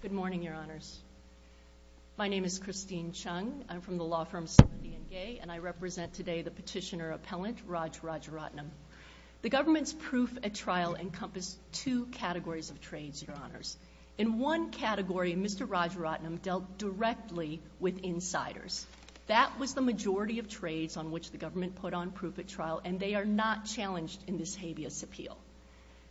Good morning, Your Honors. My name is Christine Chung. I'm from the law firm 70 and Gay, and I represent today the petitioner-appellant Raj Rajaratnam. The government's proof-at-trial encompassed two categories of trades, Your Honors. In one category, Mr. Rajaratnam dealt directly with insiders. That was the majority of trades on which the government put on proof-at-trial, and they are not challenged in this habeas appeal.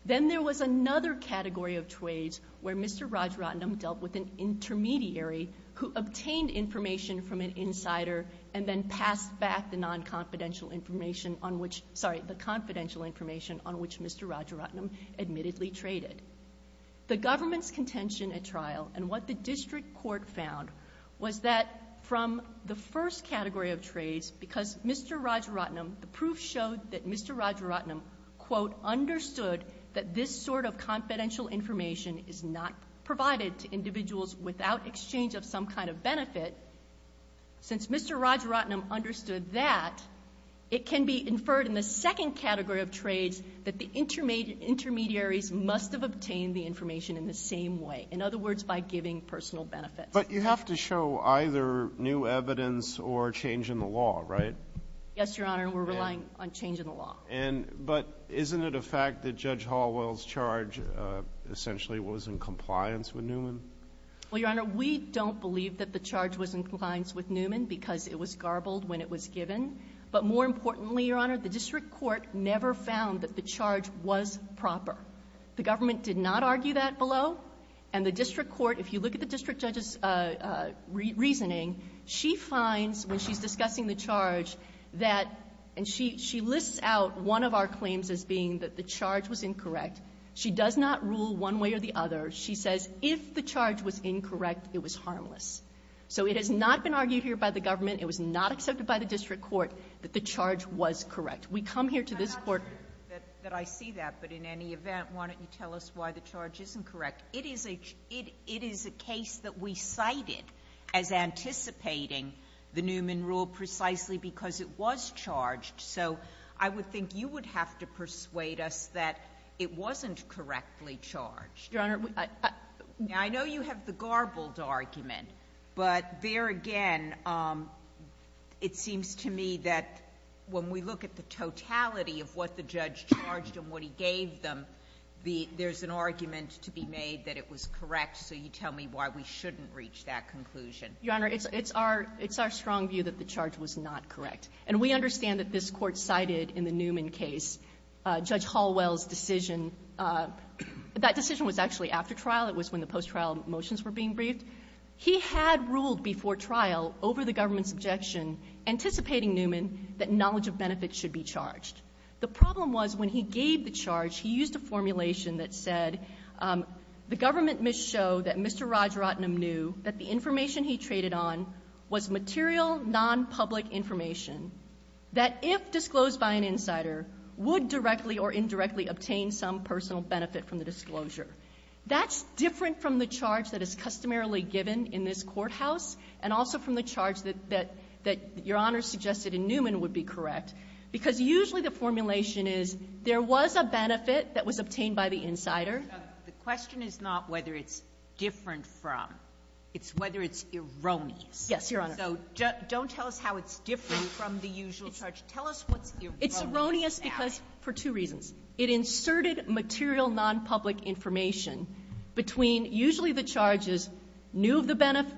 Then there was another category of trades where Mr. Rajaratnam dealt with an intermediary who obtained information from an insider and then passed back the non-confidential information on which, sorry, the confidential information on which Mr. Rajaratnam admittedly traded. The government's contention-at-trial and what the district court found was that from the first category of trades, because Mr. Rajaratnam, the proof showed that Mr. Rajaratnam, quote, understood that this sort of confidential information is not provided to individuals without exchange of some kind of benefit, since Mr. Rajaratnam understood that, it can be inferred in the second category of trades that the intermediaries must have obtained the information in the same way, in other words, by giving personal benefits. But you have to show either new evidence or change in the law, right? Yes, Your Honor, and we're relying on change in the law. And, but isn't it a fact that Judge Hallwell's charge essentially was in compliance with Newman? Well, Your Honor, we don't believe that the charge was in compliance with Newman because it was garbled when it was given. But more importantly, Your Honor, the district court never found that the charge was proper. The government did not argue that below, and the district court, if you look at the district judge's reasoning, she finds, when she's discussing the charge, that, and she lists out one of our claims as being that the charge was incorrect. She does not rule one way or the other. She says, if the charge was incorrect, it was harmless. So it has not been argued here by the government, it was not accepted by the district court that the charge was correct. We come here to this court – I'm not sure that I see that, but in any event, why don't you tell us why the charge isn't correct? It is a, it, it is a case that we cited as anticipating the Newman rule precisely because it was charged. So I would think you would have to persuade us that it wasn't correctly charged. Your Honor, I, I – Now, I know you have the garbled argument, but there again, it seems to me that when we look at the totality of what the judge charged and what he gave them, the, there's an argument to be made that it was correct. So you tell me why we shouldn't reach that conclusion. Your Honor, it's, it's our, it's our strong view that the charge was not correct. And we understand that this Court cited in the Newman case Judge Hallwell's decision. That decision was actually after trial. It was when the post-trial motions were being briefed. He had ruled before trial over the government's objection, anticipating Newman, that knowledge of benefits should be charged. The problem was when he gave the charge, he used a formulation that said, the government missed show that Mr. Rajaratnam knew that the information he traded on was material, non-public information, that if disclosed by an insider, would directly or indirectly obtain some personal benefit from the disclosure. That's different from the charge that is customarily given in this courthouse, and also from the charge that, that, that Your Honor suggested in Newman would be correct, because usually the formulation is, there was a benefit that was obtained by the insider. The question is not whether it's different from. It's whether it's erroneous. Yes, Your Honor. So don't tell us how it's different from the usual charge. Tell us what's erroneous about it. It's erroneous because, for two reasons. It inserted material, non-public information between usually the charges, knew of the benefit,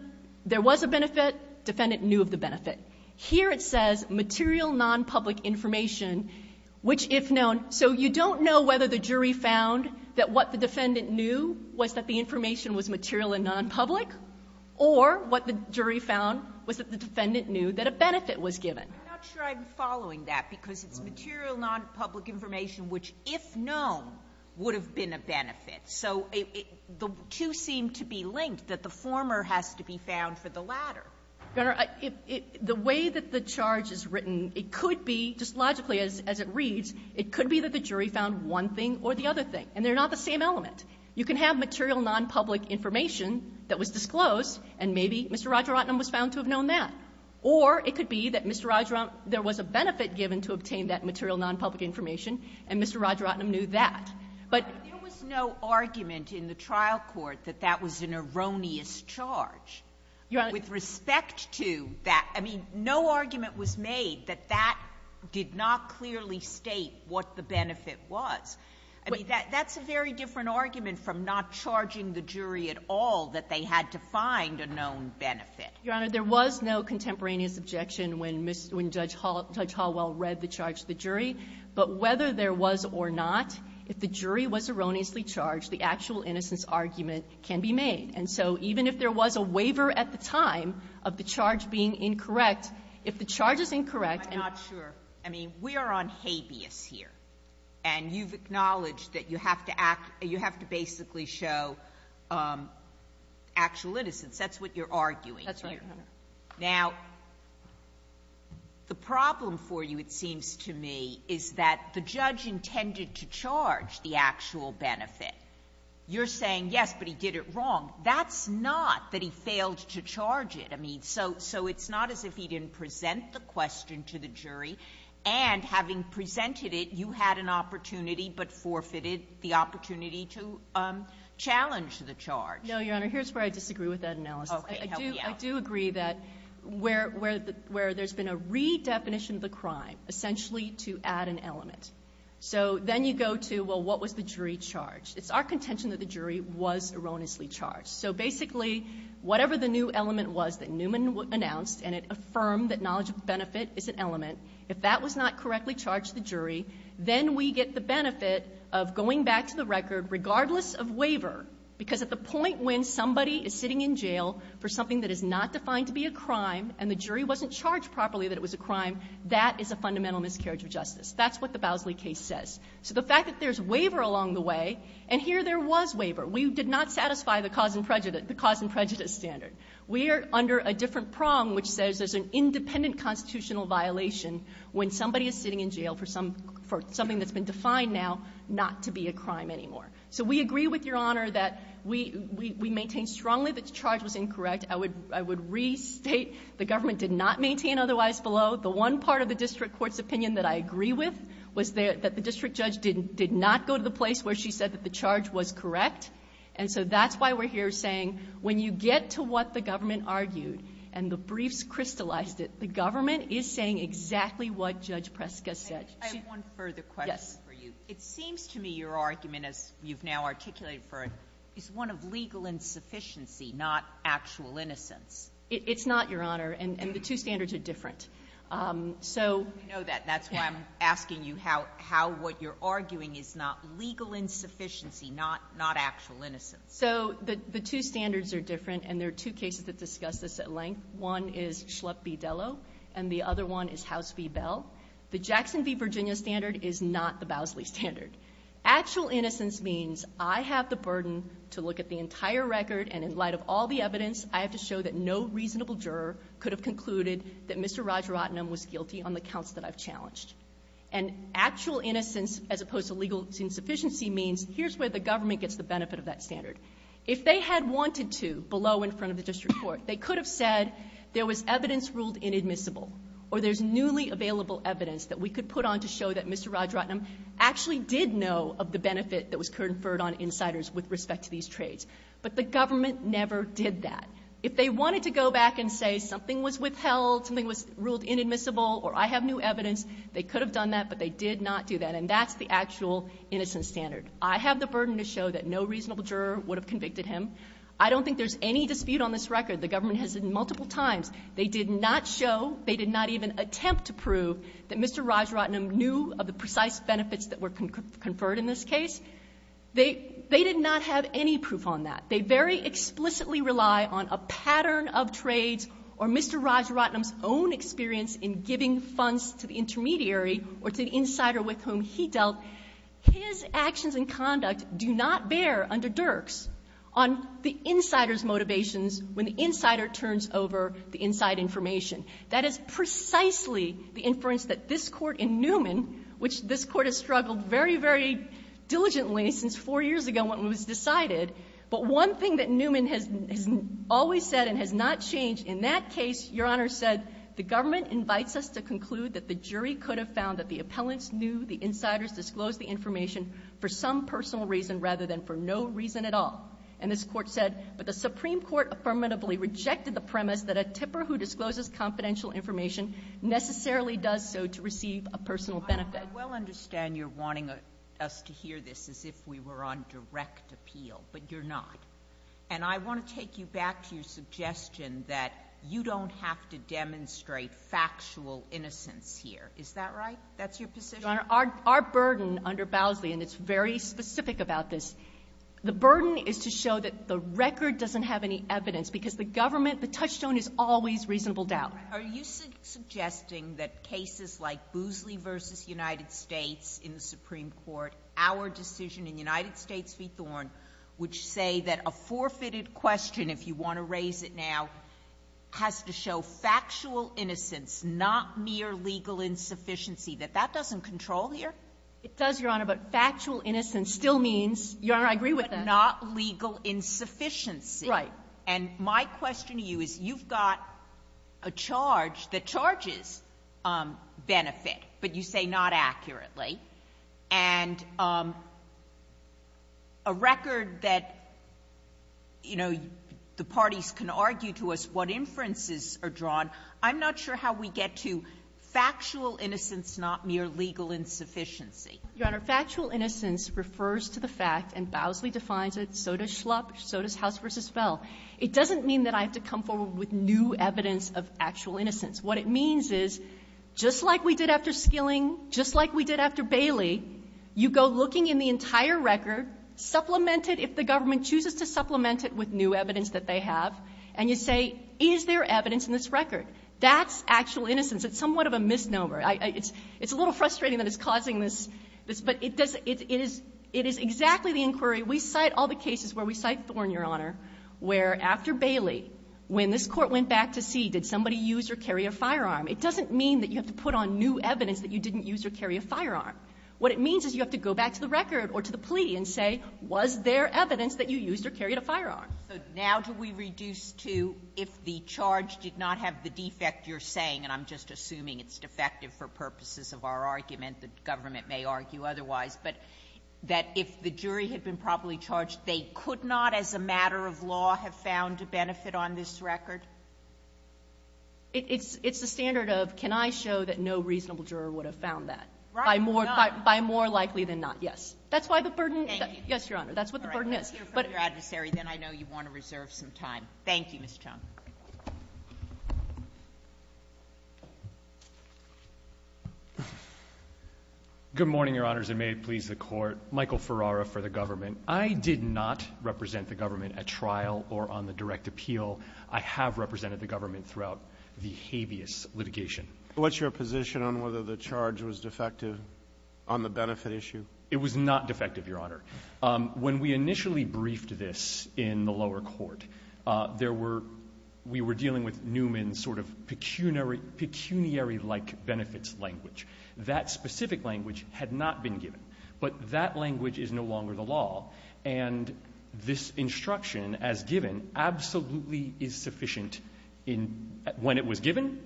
there was a benefit, defendant knew of the benefit. Here it says material, non-public information, which if known. So you don't know whether the jury found that what the defendant knew was that the information was material and non-public, or what the jury found was that the defendant knew that a benefit was given. I'm not sure I'm following that, because it's material, non-public information, which if known, would have been a benefit. So the two seem to be linked, that the Your Honor, the way that the charge is written, it could be, just logically as it reads, it could be that the jury found one thing or the other thing, and they're not the same element. You can have material, non-public information that was disclosed, and maybe Mr. Rajaratnam was found to have known that. Or it could be that Mr. Rajaratnam was found to have known that there was a benefit given to obtain that material, non-public information, and Mr. Rajaratnam knew that. But There was no argument in the trial court that that was an erroneous charge. Your Honor With respect to that, I mean, no argument was made that that did not clearly state what the benefit was. I mean, that's a very different argument from not charging the jury at all that they had to find a known benefit. Your Honor, there was no contemporaneous objection when Judge Hallwell read the charge to the jury. But whether there was or not, if the jury was erroneously charged, the actual innocence argument can be made. And so even if there was a waiver at the time of the charge being incorrect, if the charge is incorrect and I'm not sure. I mean, we are on habeas here, and you've acknowledged that you have to act or you have to basically show actual innocence. That's what you're arguing here. That's right, Your Honor. Now, the problem for you, it seems to me, is that the judge intended to charge the actual benefit. You're saying, yes, but he did it wrong. That's not that he failed to charge it. I mean, so it's not as if he didn't present the question to the jury, and having presented it, you had an opportunity but forfeited the opportunity to challenge the charge. No, Your Honor. Here's where I disagree with that analysis. Okay. Help me out. I do agree that where there's been a redefinition of the crime, essentially to add an element. So then you go to, well, what was the jury charged? It's our contention that the jury was erroneously charged. So basically, whatever the new element was that Newman announced, and it affirmed that knowledge of benefit is an element, if that was not correctly charged to the jury, then we get the benefit of going back to the record regardless of waiver. Because at the point when somebody is sitting in jail for something that is not defined to be a crime, and the jury wasn't charged properly that it was a crime, that is a fundamental miscarriage of justice. That's what the Bowsley case says. So the fact that there's waiver along the way, and here there was waiver. We did not satisfy the cause and prejudice standard. We are under a different prong which says there's an independent constitutional violation when somebody is sitting in jail for something that's been defined now not to be a crime anymore. So we agree with Your Honor that we maintain strongly that the charge was incorrect. I would restate the government did not maintain otherwise below. The one part of the district court's opinion that I agree with was that the district judge did not go to the place where she said that the charge was correct. And so that's why we're here saying when you get to what the government argued and the briefs crystallized it, the government is saying exactly what Judge Preska said. I have one further question for you. It seems to me your argument, as you've now articulated for it, is one of legal insufficiency, not actual innocence. It's not, Your Honor, and the two standards are different. So you know that. That's why I'm asking you how what you're arguing is not legal insufficiency, not actual innocence. So the two standards are different, and there are two cases that discuss this at length. One is Schlepp v. Dello, and the other one is House v. Bell. The Jackson v. Virginia standard is not the Bousley standard. Actual innocence means I have the burden to look at the entire record, and in light of all the evidence, I have to show that no reasonable juror could have concluded that Mr. Rajaratnam was guilty on the counts that I've challenged. And actual innocence as opposed to legal insufficiency means here's where the government gets the benefit of that standard. If they had wanted to below in front of the district court, they could have said there was evidence ruled inadmissible, or there's newly available evidence that we could put on to show that Mr. Rajaratnam actually did know of the benefit that was conferred on insiders with respect to these trades. But the government never did that. If they wanted to go back and say something was withheld, something was ruled inadmissible, or I have new evidence, they could have done that, but they did not do that. And that's the actual innocence standard. I have the burden to show that no reasonable juror would have convicted him. I don't think there's any dispute on this record. The government has said multiple times they did not show, they did not even attempt to prove that Mr. Rajaratnam knew of the precise benefits that were conferred in this case. They did not have any proof on that. They very explicitly rely on a pattern of trades or Mr. Rajaratnam's own experience in giving funds to the intermediary or to the insider with whom he dealt. His actions and conduct do not bear under Dirks on the insider's motivations when the insider turns over the inside information. That is precisely the inference that this Court in Newman, which this Court has struggled very, very diligently since four years ago when it was decided. But one thing that Newman has always said and has not changed in that case, Your Honor, said the government invites us to conclude that the jury could have found that the appellants knew the insiders disclosed the information for some personal reason rather than for no reason at all. And this Court said, but the Supreme Court affirmatively rejected the premise that a tipper who discloses confidential information necessarily does so to receive a personal benefit. I well understand you're wanting us to hear this as if we were on direct appeal, but you're not. And I want to take you back to your suggestion that you don't have to demonstrate factual innocence here. Is that right? That's your position? Your Honor, our burden under Bowsley, and it's very specific about this, the burden is to show that the record doesn't have any evidence, because the government, the touchstone is always reasonable doubt. Are you suggesting that cases like Bowsley v. United States in the Supreme Court, our decision in United States v. Thorne, which say that a forfeited question, if you want to raise it now, has to show factual innocence, not mere legal insufficiency? That that doesn't control here? It does, Your Honor, but factual innocence still means, Your Honor, I agree with that. Not legal insufficiency. Right. And my question to you is, you've got a charge that charges benefit, but you say not accurately. And a record that, you know, the parties can argue to us what inferences are drawn, I'm not sure how we get to factual innocence, not mere legal insufficiency. Your Honor, factual innocence refers to the fact, and Bowsley defines it, so does Schlupp, so does House v. Spell. It doesn't mean that I have to come forward with new evidence of actual innocence. What it means is, just like we did after Skilling, just like we did after Bailey, you go looking in the entire record, supplement it if the government chooses to supplement it with new evidence that they have, and you say, is there evidence in this record? That's actual innocence. It's somewhat of a misnomer. It's a little frustrating that it's causing this, but it is exactly the inquiry we cite all the cases where we cite Thorne, Your Honor, where after Bailey, when this Court went back to see did somebody use or carry a firearm, it doesn't mean that you have to put on new evidence that you didn't use or carry a firearm. What it means is you have to go back to the record or to the plea and say, was there evidence that you used or carried a firearm? So now do we reduce to if the charge did not have the defect you're saying, and I'm just assuming it's defective for purposes of our argument, the government may argue otherwise, but that if the jury had been properly charged, they could not as a matter of law have found a benefit on this record? It's the standard of, can I show that no reasonable juror would have found that? Right. By more likely than not, yes. That's why the burden. Thank you. Yes, Your Honor, that's what the burden is. All right, let's hear from your adversary, then I know you want to reserve some time. Thank you, Ms. Chung. Good morning, Your Honors, and may it please the Court. Michael Ferrara for the government. I did not represent the government at trial or on the direct appeal. I have represented the government throughout the habeas litigation. What's your position on whether the charge was defective on the benefit issue? It was not defective, Your Honor. When we initially briefed this in the lower court, there were, we were dealing with Newman's sort of pecuniary-like benefits language. That specific language had not been given, but that language is no longer the law, and this instruction as given absolutely is sufficient when it was given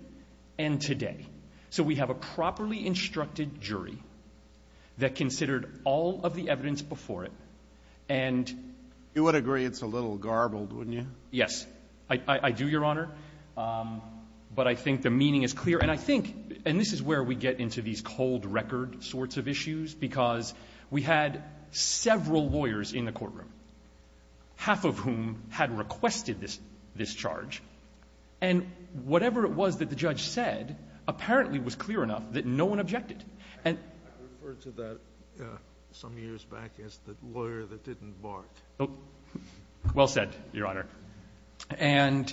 and today. So we have a properly instructed jury that considered all of the evidence before it, and you would agree it's a little garbled, wouldn't you? Yes, I do, Your Honor, but I think the meaning is clear, and I think, and this is where we get into these cold record sorts of issues, because we had several lawyers in the courtroom, half of whom had requested this charge, and whatever it was that the judge said apparently was clear enough that no one objected. And I referred to that some years back as the lawyer that didn't bark. Well said, Your Honor. And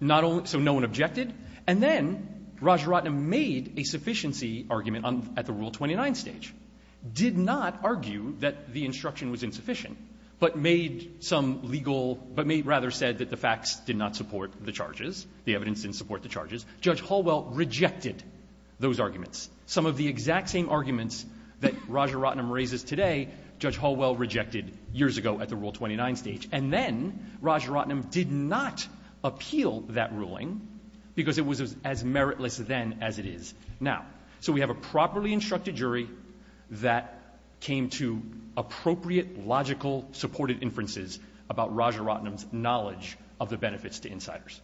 not only, so no one objected, and then Rajaratnam made a sufficiency argument at the Rule 29 stage, did not argue that the instruction was insufficient, but made some legal, but rather said that the facts did not support the charges, the evidence didn't support the charges. Judge Hallwell rejected those arguments. Some of the exact same arguments that Rajaratnam raises today, Judge Hallwell rejected years ago at the Rule 29 stage, and then Rajaratnam did not appeal that ruling because it was as meritless then as it is now. So we have a properly instructed jury that came to appropriate, logical, supported inferences about Rajaratnam's knowledge of the benefits to insiders.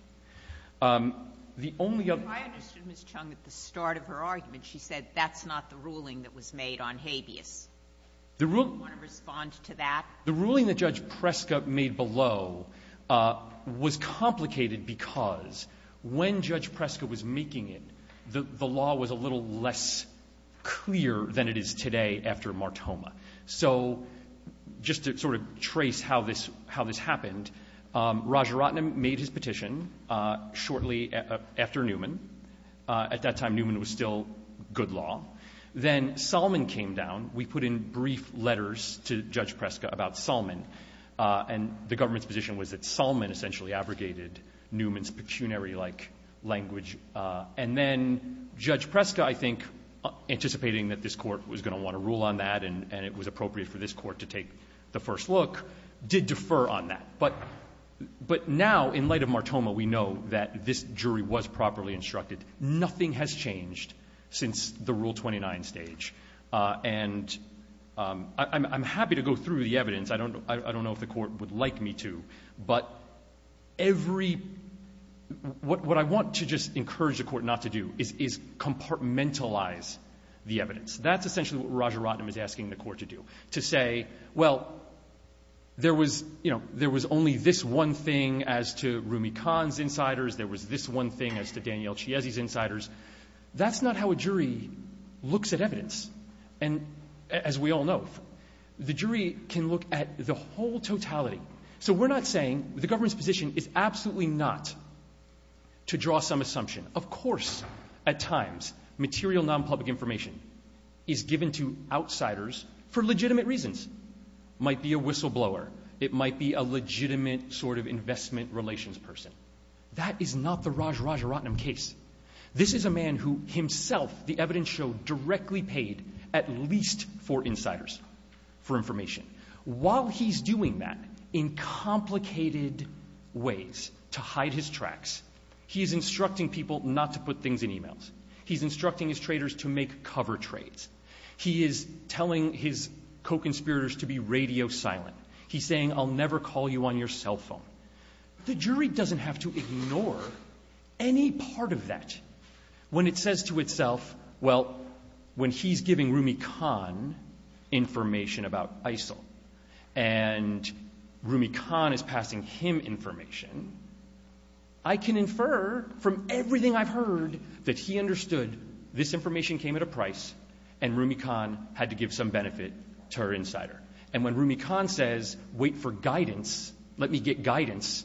The only other ---- If I understood Ms. Chung at the start of her argument, she said that's not the ruling that was made on habeas. The rule ---- Do you want to respond to that? The ruling that Judge Preska made below was complicated because when Judge Preska was making it, the law was a little less clear than it is today after Martoma. So just to sort of trace how this happened, Rajaratnam made his petition. Shortly after Newman, at that time, Newman was still good law. Then Salmon came down. We put in brief letters to Judge Preska about Salmon, and the government's position was that Salmon essentially abrogated Newman's pecuniary-like language. And then Judge Preska, I think, anticipating that this court was going to want to rule on that and it was appropriate for this court to take the first look, did defer on that. But now, in light of Martoma, we know that this jury was properly instructed. Nothing has changed since the Rule 29 stage. And I'm happy to go through the evidence. I don't know if the court would like me to, but every ---- what I want to just encourage the court not to do is compartmentalize the evidence. That's essentially what Rajaratnam is asking the court to do, to say, well, there was only this one thing as to Rumi Khan's insiders. There was this one thing as to Daniel Chiesi's insiders. That's not how a jury looks at evidence. And as we all know, the jury can look at the whole totality. So we're not saying the government's position is absolutely not to draw some assumption. Of course, at times, material non-public information is given to outsiders for legitimate reasons. Might be a whistleblower. It might be a legitimate sort of investment relations person. That is not the Rajaratnam case. This is a man who himself, the evidence showed, directly paid at least for insiders for information. While he's doing that in complicated ways to hide his tracks, he's instructing people not to put things in emails. He's instructing his traders to make cover trades. He is telling his co-conspirators to be radio silent. He's saying, I'll never call you on your cell phone. The jury doesn't have to ignore any part of that. When it says to itself, well, when he's giving Rumi Khan information about ISIL, and Rumi Khan is passing him information, I can infer from everything I've heard that he understood this information came at a price, and Rumi Khan had to give some benefit to her insider. And when Rumi Khan says, wait for guidance, let me get guidance,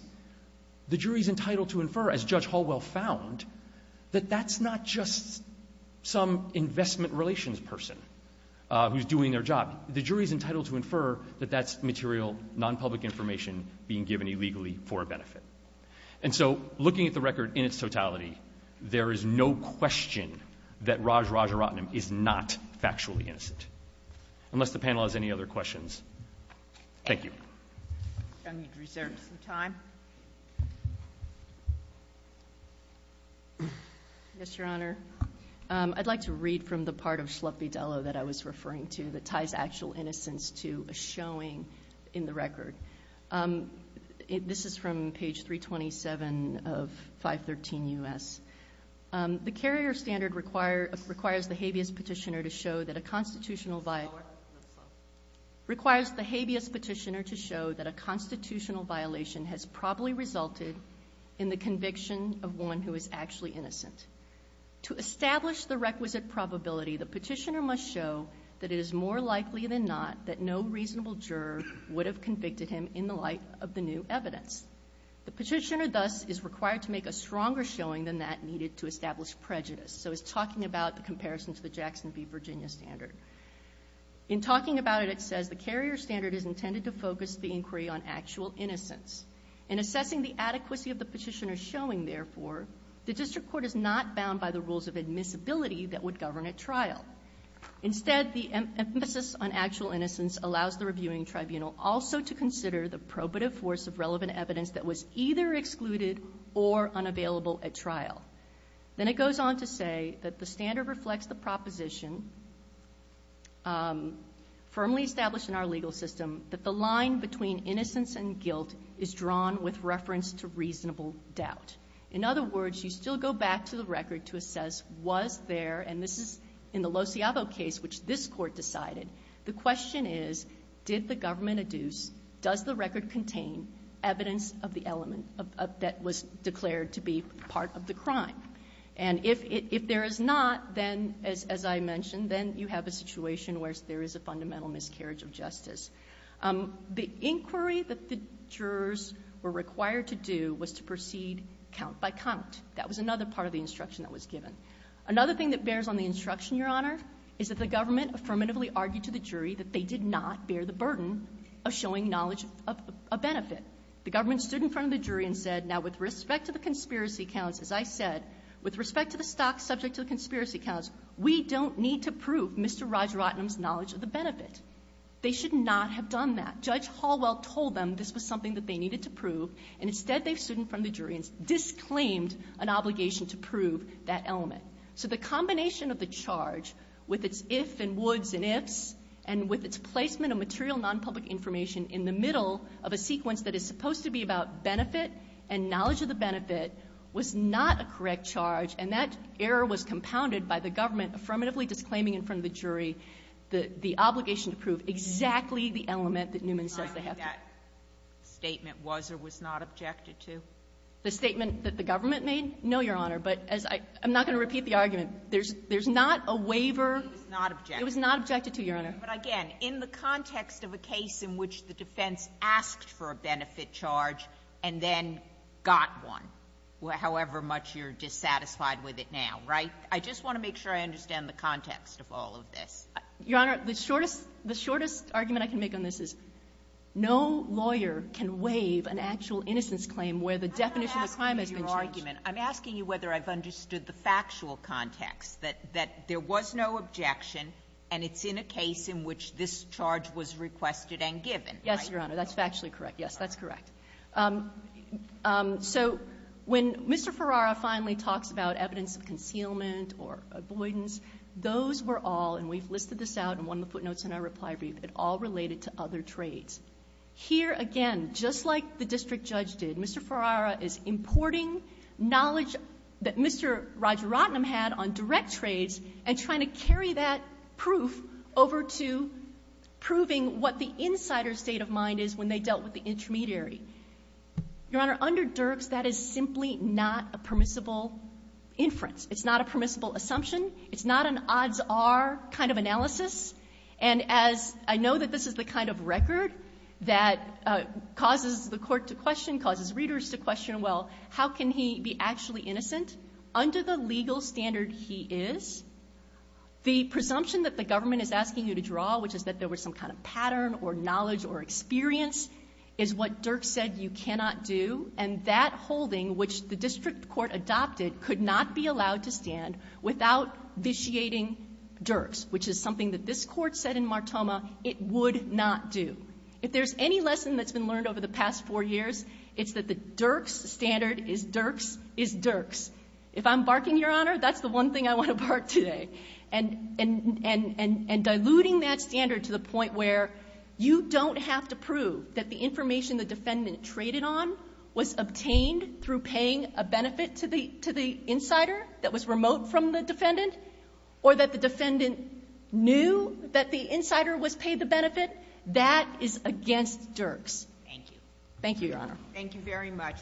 the jury's entitled to infer, as Judge Hallwell found, that that's not just some investment relations person who's doing their job. The jury's entitled to infer that that's material, non-public information being given illegally for a benefit. And so, looking at the record in its totality, there is no question that Raj Rajaratnam is not factually innocent. Unless the panel has any other questions. Thank you. I need to reserve some time. Yes, Your Honor. I'd like to read from the part of Shlupi Dello that I was referring to that ties actual innocence to a showing in the record. This is from page 327 of 513 U.S. The carrier standard requires the habeas petitioner to show that a constitutional violation, requires the habeas petitioner to show that a constitutional violation has probably resulted in the conviction of one who is actually innocent. To establish the requisite probability, the petitioner must show that it is more likely than not that no reasonable juror would have convicted him in the light of the new evidence. The petitioner, thus, is required to make a stronger showing than that needed to establish prejudice. So, it's talking about the comparison to the Jackson v. Virginia standard. In talking about it, it says the carrier standard is intended to focus the inquiry on actual innocence. In assessing the adequacy of the petitioner's showing, therefore, the district court is not bound by the rules of admissibility that would govern a trial. Instead, the emphasis on actual innocence allows the reviewing tribunal also to assess evidence that was either excluded or unavailable at trial. Then it goes on to say that the standard reflects the proposition, firmly established in our legal system, that the line between innocence and guilt is drawn with reference to reasonable doubt. In other words, you still go back to the record to assess was there, and this is in the Lociavo case, which this court decided. The question is, did the government adduce, does the record contain evidence of the element that was declared to be part of the crime? And if there is not, then, as I mentioned, then you have a situation where there is a fundamental miscarriage of justice. The inquiry that the jurors were required to do was to proceed count by count. That was another part of the instruction that was given. Another thing that bears on the instruction, Your Honor, is that the government affirmatively argued to the jury that they did not bear the burden of showing knowledge of a benefit. The government stood in front of the jury and said, now, with respect to the conspiracy counts, as I said, with respect to the stock subject to the conspiracy counts, we don't need to prove Mr. Rajaratnam's knowledge of the benefit. They should not have done that. Judge Hallwell told them this was something that they needed to prove, and instead they've stood in front of the jury and disclaimed an obligation to prove that element. So the combination of the charge, with its if and woulds and ifs, and with its placement of material non-public information in the middle of a sequence that is supposed to be about benefit and knowledge of the benefit, was not a correct charge, and that error was compounded by the government affirmatively disclaiming in front of the jury the obligation to prove exactly the element that Newman says they have to. The statement was or was not objected to? The statement that the government made? No, Your Honor. But as I'm not going to repeat the argument. There's not a waiver. It was not objected to. It was not objected to, Your Honor. But, again, in the context of a case in which the defense asked for a benefit charge and then got one, however much you're dissatisfied with it now, right? I just want to make sure I understand the context of all of this. Your Honor, the shortest argument I can make on this is no lawyer can waive an actual innocence claim where the definition of the crime has been changed. I'm not asking you your argument. I'm asking you whether I've understood the factual context, that there was no objection and it's in a case in which this charge was requested and given. Yes, Your Honor. That's factually correct. Yes, that's correct. So when Mr. Ferrara finally talks about evidence of concealment or avoidance, those were all, and we've listed this out in one of the footnotes in our reply brief, it all related to other trades. Here, again, just like the district judge did, Mr. Ferrara is importing knowledge that Mr. Rajaratnam had on direct trades and trying to carry that proof over to proving what the insider's state of mind is when they dealt with the intermediary. Your Honor, under Dirks, that is simply not a permissible inference. It's not a permissible assumption. It's not an odds are kind of analysis. And as I know that this is the kind of record that causes the court to question, causes readers to question, well, how can he be actually innocent? Under the legal standard he is, the presumption that the government is asking you to draw, which is that there was some kind of pattern or knowledge or experience, is what Dirks said you cannot do. And that holding, which the district court adopted, could not be allowed to stand without vitiating Dirks, which is something that this court said in Martoma it would not do. If there's any lesson that's been learned over the past four years, it's that the Dirks standard is Dirks is Dirks. If I'm barking, Your Honor, that's the one thing I want to bark today. And diluting that standard to the point where you don't have to prove that the information the defendant traded on was obtained through paying a benefit to the insider that was remote from the defendant, or that the defendant knew that the insider was paid the benefit, that is against Dirks. Thank you. Thank you, Your Honor. Thank you very much.